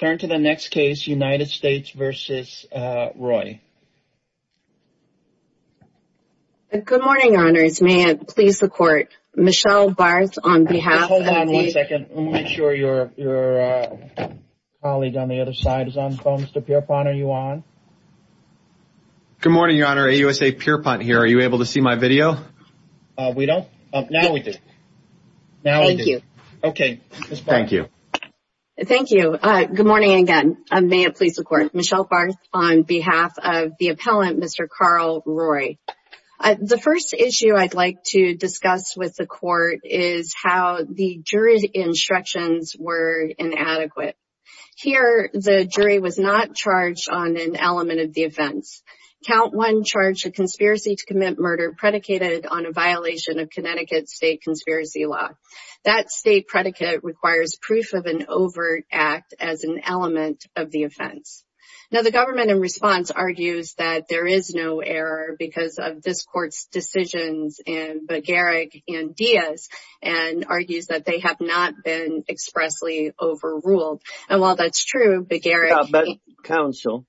Good morning Your Honor, AUSA Pierpont here, are you able to see my video? We don't? Now we do. Thank you. Okay, Ms. Barth. Thank you. Thank you. Good morning again. May it please the Court. Michelle Barth on behalf of the appellant, Mr. Carl Roye. The first issue I'd like to discuss with the Court is how the jury's instructions were inadequate. Here, the jury was not charged on an element of the offense. Count 1 charged a conspiracy to commit murder predicated on a violation of Connecticut state conspiracy law. That state predicate requires proof of an overt act as an element of the offense. Now, the government in response argues that there is no error because of this Court's decisions in Begaric and Diaz, and argues that they have not been expressly overruled. And while that's true, Counsel,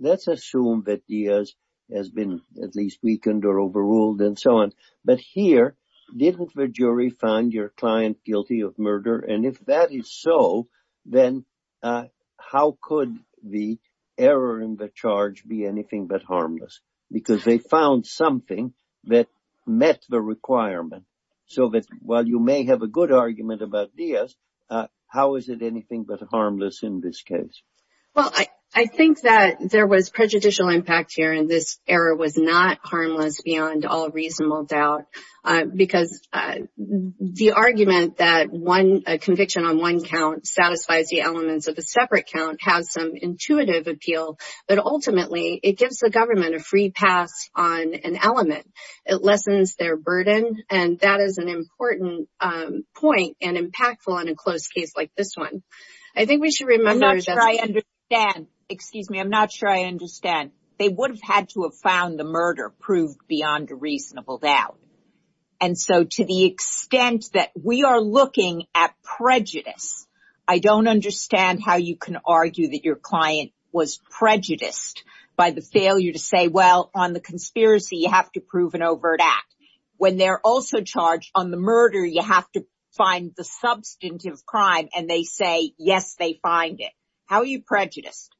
let's assume that Diaz has been at least weakened or overruled and so on. But here, didn't the jury find your client guilty of murder? And if that is so, then how could the error in the charge be anything but harmless? Because they found something that met the requirement. So while you may have a good argument about Diaz, how is it anything but harmless in this case? Well, I think that there was prejudicial impact here, and this error was not harmless beyond all reasonable doubt. Because the argument that a conviction on one count satisfies the elements of a separate count has some intuitive appeal. But ultimately, it gives the government a free pass on an element. It lessens their burden, and that is an important point and impactful in a closed case like this one. I think we should remember that... I'm not sure I understand. Excuse me. I'm not sure I understand. They would have had to have found the murder proved beyond a reasonable doubt. And so, to the extent that we are looking at prejudice, I don't understand how you can argue that your client was prejudiced by the failure to say, well, on the conspiracy, you have to prove an overt act. When they're also charged on the murder, you have to find the substantive crime, and they say, yes, they find it. How are you prejudiced?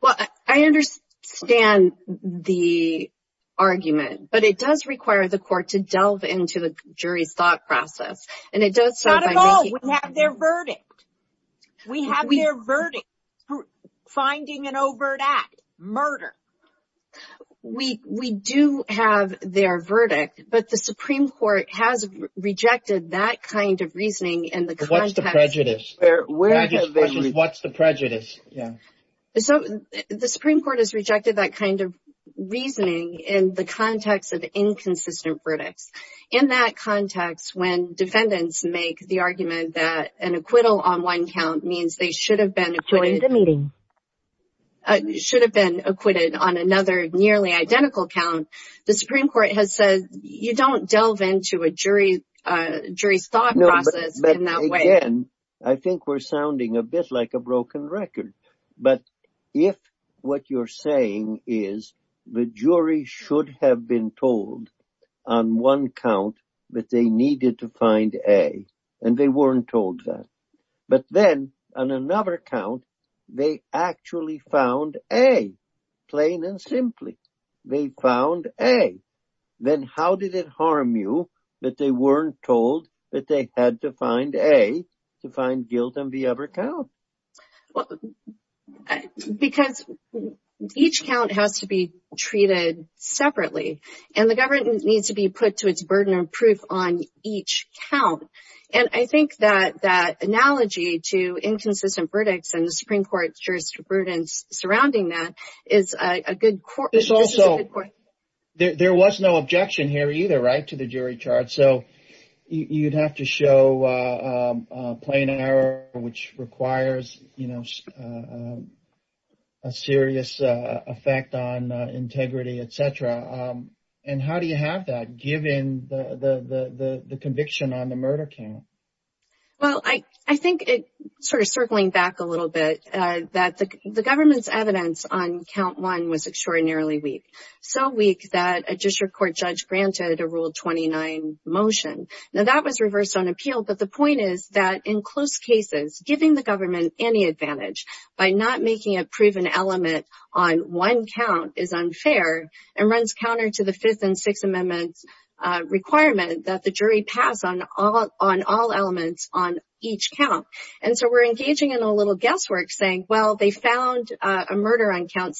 Well, I understand the argument, but it does require the court to delve into the jury's thought process. And it does so by making... Not at all. We have their verdict. We have their verdict. Finding an overt act. Murder. We do have their verdict, but the Supreme Court has rejected that kind of reasoning in the context... What's the prejudice? What's the prejudice? Yeah. So, the Supreme Court has rejected that kind of reasoning in the context of inconsistent verdicts. In that context, when defendants make the argument that an acquittal on one count means they should have been acquitted on another nearly identical count, the Supreme Court has said, you don't delve into a jury's thought process in that way. Again, I think we're sounding a bit like a broken record. But if what you're saying is the jury should have been told on one count that they needed to find A, and they weren't told that. But then, on another count, they actually found A, plain and simply. They found A. Then how did it harm you that they weren't told that they had to find A to find guilt on the other count? Because each count has to be treated separately. And the government needs to be put to its burden of proof on each count. And I think that that analogy to inconsistent verdicts and the Supreme Court's jurisprudence surrounding that is a good point. There was no objection here either, to the jury charge. So you'd have to show a plain error, which requires a serious effect on integrity, etc. And how do you have that, given the conviction on the murder count? Well, I think, circling back a little bit, that the government's evidence on count one was motion. Now, that was reversed on appeal. But the point is that in close cases, giving the government any advantage by not making a proven element on one count is unfair and runs counter to the Fifth and Sixth Amendment's requirement that the jury pass on all elements on each count. And so we're engaging in a little guesswork saying, well, they found a murder on count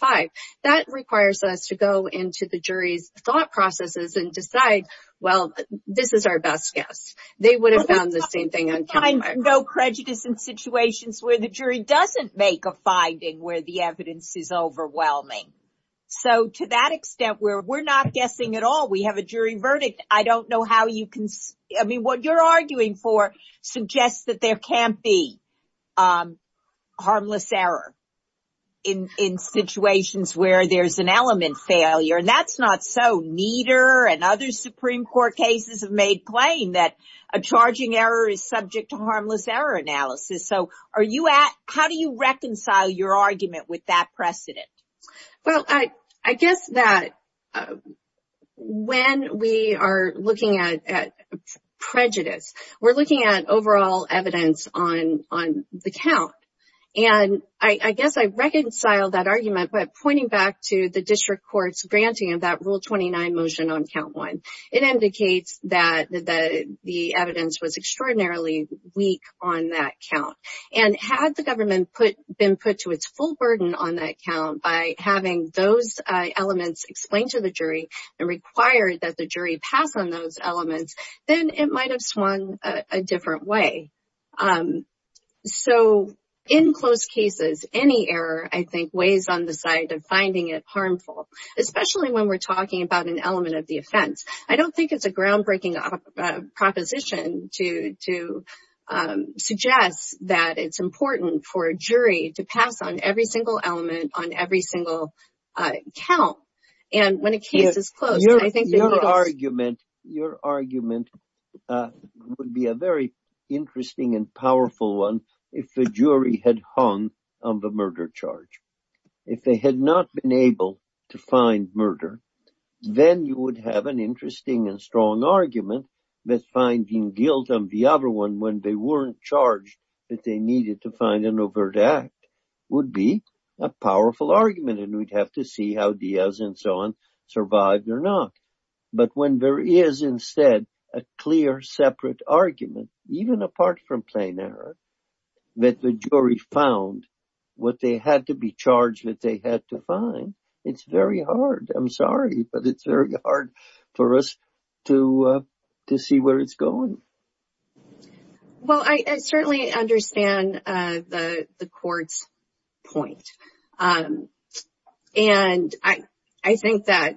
five. That requires us to go into the jury's thought processes and decide, well, this is our best guess. They would have found the same thing on count five. No prejudice in situations where the jury doesn't make a finding where the evidence is overwhelming. So to that extent where we're not guessing at all, we have a jury verdict, I don't know how you can, I mean, what you're arguing for suggests that there can't be harmless error in situations where there's an element failure. And that's not so neater and other Supreme Court cases have made claim that a charging error is subject to harmless error analysis. So are you at, how do you reconcile your argument with that precedent? Well, I guess that when we are looking at prejudice, we're looking at overall evidence on the count. And I guess I reconcile that argument by pointing back to the district court's granting of that Rule 29 motion on count one. It indicates that the evidence was extraordinarily weak on that count. And had the government been put to its full burden on that count by having those elements explained to the jury and required that the jury pass on those elements in a way. So in close cases, any error, I think, weighs on the side of finding it harmful, especially when we're talking about an element of the offense. I don't think it's a groundbreaking proposition to suggest that it's important for a jury to pass on every single element on every single count. And when a case is closed, I think... Your argument would be a very interesting and powerful one if the jury had hung on the murder charge. If they had not been able to find murder, then you would have an interesting and strong argument that finding guilt on the other one when they weren't charged that they needed to find an argument and we'd have to see how Diaz and so on survived or not. But when there is instead a clear separate argument, even apart from plain error, that the jury found what they had to be charged that they had to find, it's very hard. I'm sorry, but it's very hard for us to see where it's going. Well, I certainly understand the court's point. And I think that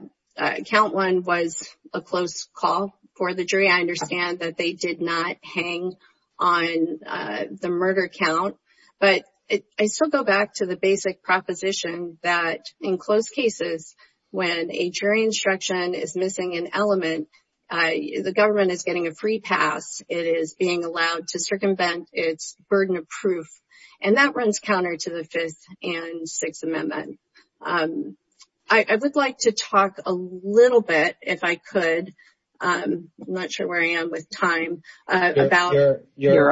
count one was a close call for the jury. I understand that they did not hang on the murder count. But I still go back to the basic proposition that in close cases, when a jury instruction is missing an element, the government is getting a free pass. It is being allowed to circumvent its burden of proof. And that runs counter to the Fifth and Sixth Amendment. I would like to talk a little bit, if I could. I'm not sure where I am with time. You're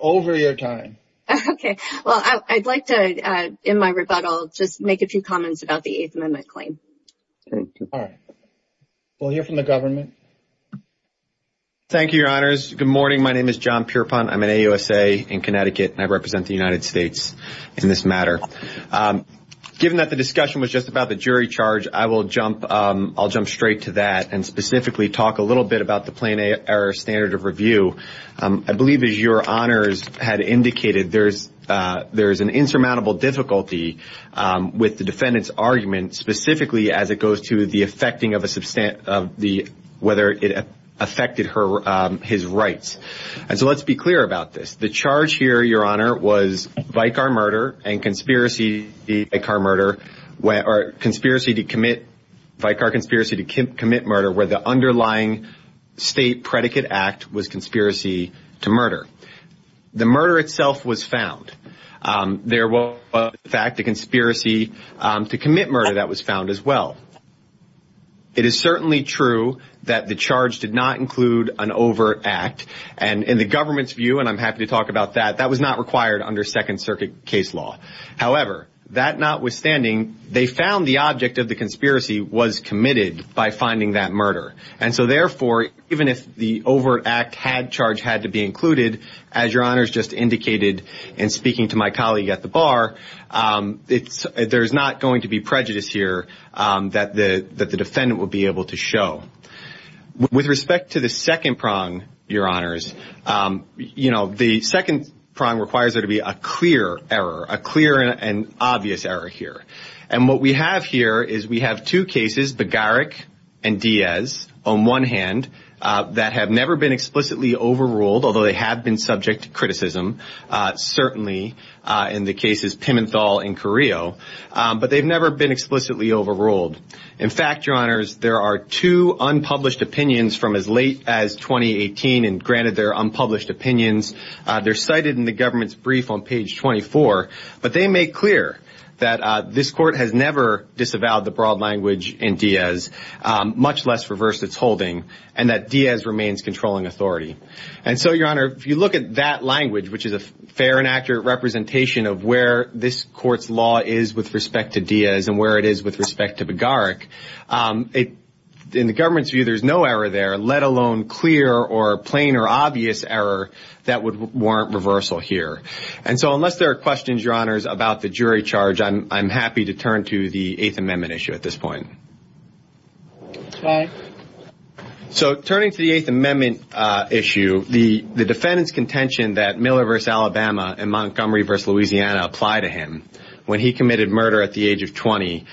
over your time. Okay. Well, I'd like to, in my rebuttal, just make a few comments about the Eighth Amendment claim. Thank you. All right. We'll hear from the government. Thank you, Your Honors. Good morning. My name is John Pierpont. I'm an AUSA in Connecticut, and I represent the United States in this matter. Given that the discussion was just about the jury charge, I'll jump straight to that and specifically talk a little bit about the plain error standard of review. I believe, as Your Honors had indicated, there's an insurmountable difficulty with the defendant's argument, specifically as it goes to whether it affected his rights. And so, let's be clear about this. The charge here, Your Honor, was Vicar murder and conspiracy to commit murder, where the underlying state predicate act was conspiracy to murder. The murder itself was found. There was, in fact, a conspiracy to commit murder that was found as well. It is certainly true that the charge did not include an overt act. And in the government's view, and I'm happy to talk about that, that was not required under Second Circuit case law. However, that notwithstanding, they found the object of the conspiracy was committed by finding that murder. And so, therefore, even if the overt act charge had to be included, as Your Honors just indicated in speaking to my colleague at the bar, there's not going to be prejudice here that the defendant would be able to show. With respect to the second prong, Your Honors, the second prong requires there to be a clear error, a clear and obvious error here. And what we have here is we have two cases, Begaric and Diaz, on one hand, that have never been explicitly overruled, although they have been subject to criticism, certainly in the cases Pimenthal and Carrillo, but they've never been explicitly overruled. In fact, Your Honors, there are two unpublished opinions from as late as 2018, and granted they're unpublished opinions, they're cited in the government's brief on page 24, but they make clear that this court has never disavowed the broad language in Diaz, much less reversed its holding, and that Diaz remains controlling authority. And so, Your Honor, if you look at that language, which is a fair and accurate representation of where this court's law is with respect to Diaz and where it is with respect to Begaric, in the government's view, there's no error there, let alone clear or plain or obvious error that would warrant reversal here. And so, unless there are questions, Your Honors, about the jury charge, I'm happy to turn to the Eighth Amendment issue at this point. So, turning to the Eighth Amendment issue, the defendant's contention that Miller v. Alabama and Montgomery v. Louisiana apply to him when he committed murder at the age of 20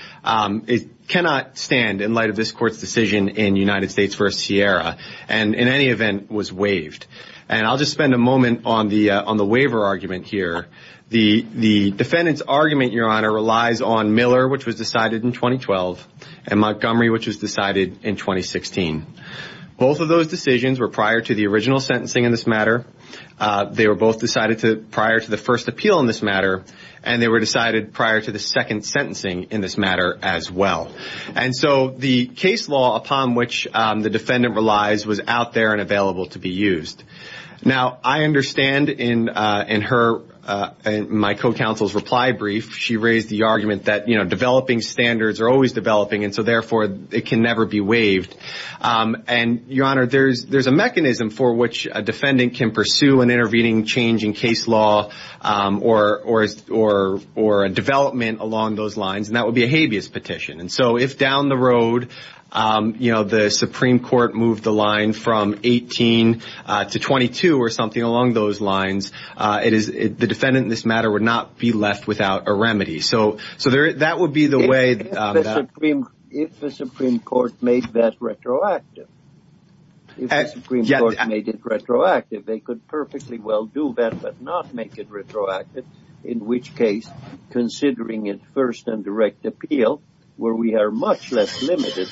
cannot stand in light of this court's decision in United States v. Sierra, and in any event was waived. And I'll just spend a moment on the waiver argument here. The defendant's argument, Your Honor, relies on Miller, which was decided in 2012, and Montgomery, which was decided in 2016. Both of those decisions were prior to the original sentencing in this matter. They were both decided prior to the first appeal in this matter, and they were decided prior to the second sentencing in this matter as well. And so, the case law upon which the defendant relies was out there and available to be used. Now, I understand in my co-counsel's reply brief, she raised the argument that developing standards are always developing, and so therefore, it can never be waived. And Your Honor, there's a mechanism for which a defendant can pursue an intervening change in case law or a development along those lines, and that would be a habeas petition. And so, if down the road, you know, the Supreme Court moved the line from 18 to 22 or something along those lines, the defendant in this matter would not be left without a remedy. So, that would be the way. If the Supreme Court made that retroactive, if the Supreme Court made it retroactive, they could perfectly well do that but not make it retroactive, in which case, considering it first and direct appeal, where we are much less limited,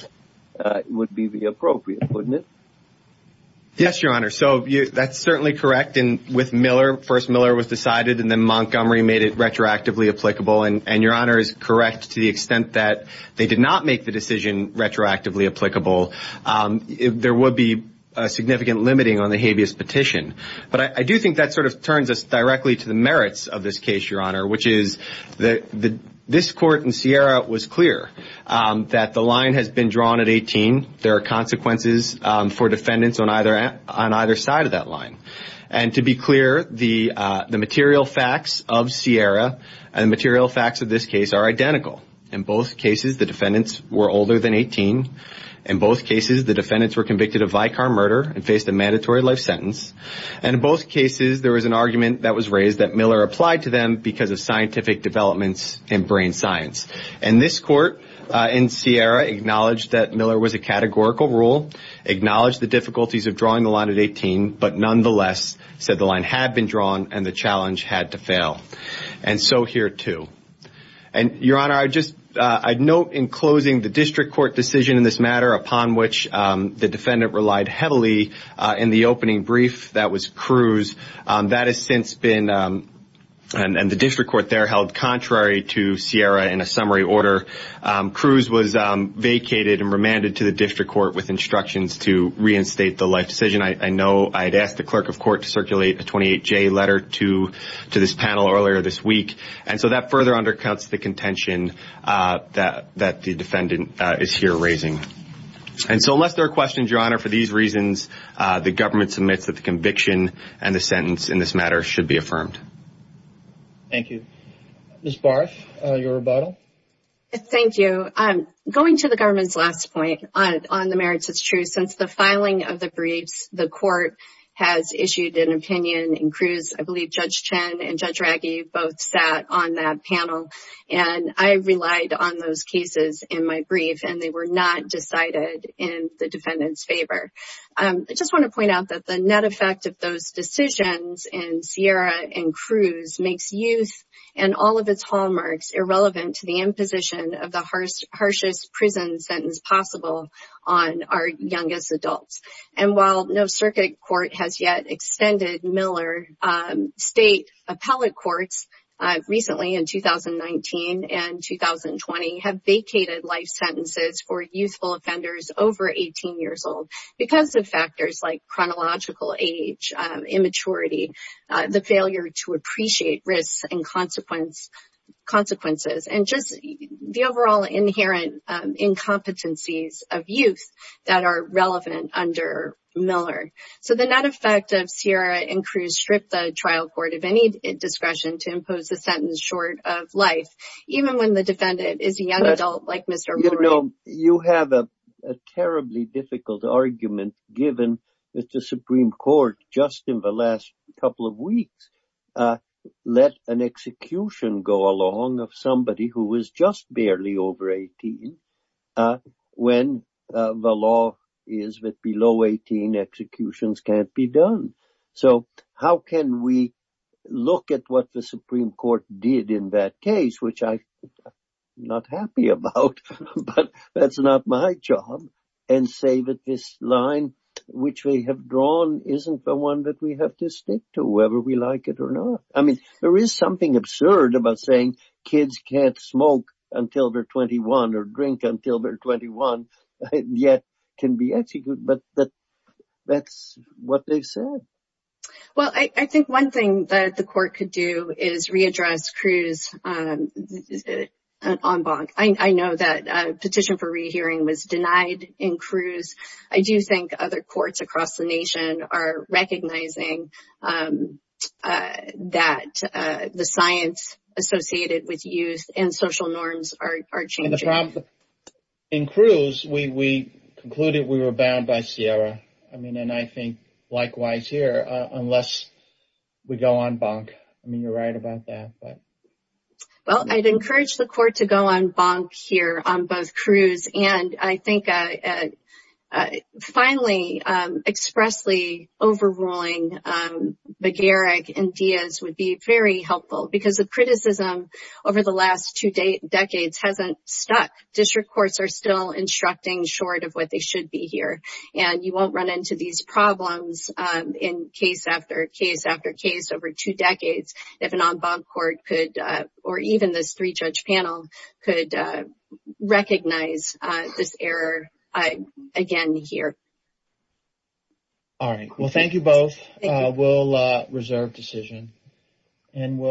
would be the appropriate, wouldn't it? Yes, Your Honor. So, that's certainly correct. And with Miller, first Miller was decided, and then Montgomery made it retroactively applicable. And Your Honor is correct to the extent that they did not make the decision retroactively applicable. There would be significant limiting on the habeas petition. But I do think that sort of turns us directly to the merits of this case, Your Honor, which is that this court in Sierra was clear that the line has been drawn at 18. There are consequences for defendants on either side of that line. And to be clear, the material facts of Sierra and the material facts of this case are identical. In both cases, the defendants were older than 18. In both cases, the defendants were convicted of Vicar murder and faced a mandatory life sentence. And in both cases, there was an argument that was raised that Miller applied to them because of scientific developments in brain science. And this court in Sierra acknowledged that Miller was a categorical rule, acknowledged the difficulties of drawing the line at 18, but nonetheless said the line had been drawn and the challenge had to fail. And so here too. And Your Honor, I just, I'd note in closing the district court decision in this matter upon which the defendant relied heavily in the opening brief that was Cruz, that has since been, and the district court there held contrary to Sierra in a summary order. Cruz was vacated and remanded to the district court with instructions to reinstate the life decision. I know I'd asked the clerk of court to circulate a 28-J letter to this panel earlier this week. And so that further undercuts the contention that the defendant is here raising. And so unless there are questions, Your Honor, for these reasons, the government submits that the conviction and the sentence in this matter should be affirmed. Thank you. Ms. Barff, your rebuttal. Thank you. Going to the government's last point on the merits, it's true since the filing of the both sat on that panel and I relied on those cases in my brief and they were not decided in the defendant's favor. I just want to point out that the net effect of those decisions in Sierra and Cruz makes youth and all of its hallmarks irrelevant to the imposition of the harshest prison sentence possible on our youngest adults. And while no circuit court has yet extended Miller, state appellate courts recently in 2019 and 2020 have vacated life sentences for youthful offenders over 18 years old because of factors like chronological age, immaturity, the failure to appreciate risks and consequences, and just the overall inherent incompetencies of youth that are relevant under Miller. So the net effect of Sierra and Cruz stripped the trial court of any discretion to impose a sentence short of life, even when the defendant is a young adult like Mr. Moreau. You know, you have a terribly difficult argument given that the Supreme Court just in the last couple of weeks let an execution go along of somebody who was just barely over 18 when the law is that below 18 executions can't be done. So how can we look at what the Supreme Court did in that case, which I'm not happy about, but that's not my job, and say that this line which we have drawn isn't the one that we have to stick to, whether we like it or not. I mean, there is something absurd about saying kids can't smoke until they're 21 or drink until they're 21 yet can be executed, but that's what they said. Well, I think one thing that the court could do is readdress Cruz en banc. I know that a petition for rehearing was denied in Cruz. I do think other the science associated with youth and social norms are changing. In Cruz, we concluded we were bound by Sierra. I mean, and I think likewise here, unless we go en banc. I mean, you're right about that, but. Well, I'd encourage the court to go en banc here on both Cruz and I think finally expressly overruling McGarrick and Diaz would be very helpful because the criticism over the last two decades hasn't stuck. District courts are still instructing short of what they should be here, and you won't run into these problems in case after case after case over two decades if an en banc court could or even this three-judge panel could recognize this error again here. All right. Well, thank you both. We'll reserve decision and we'll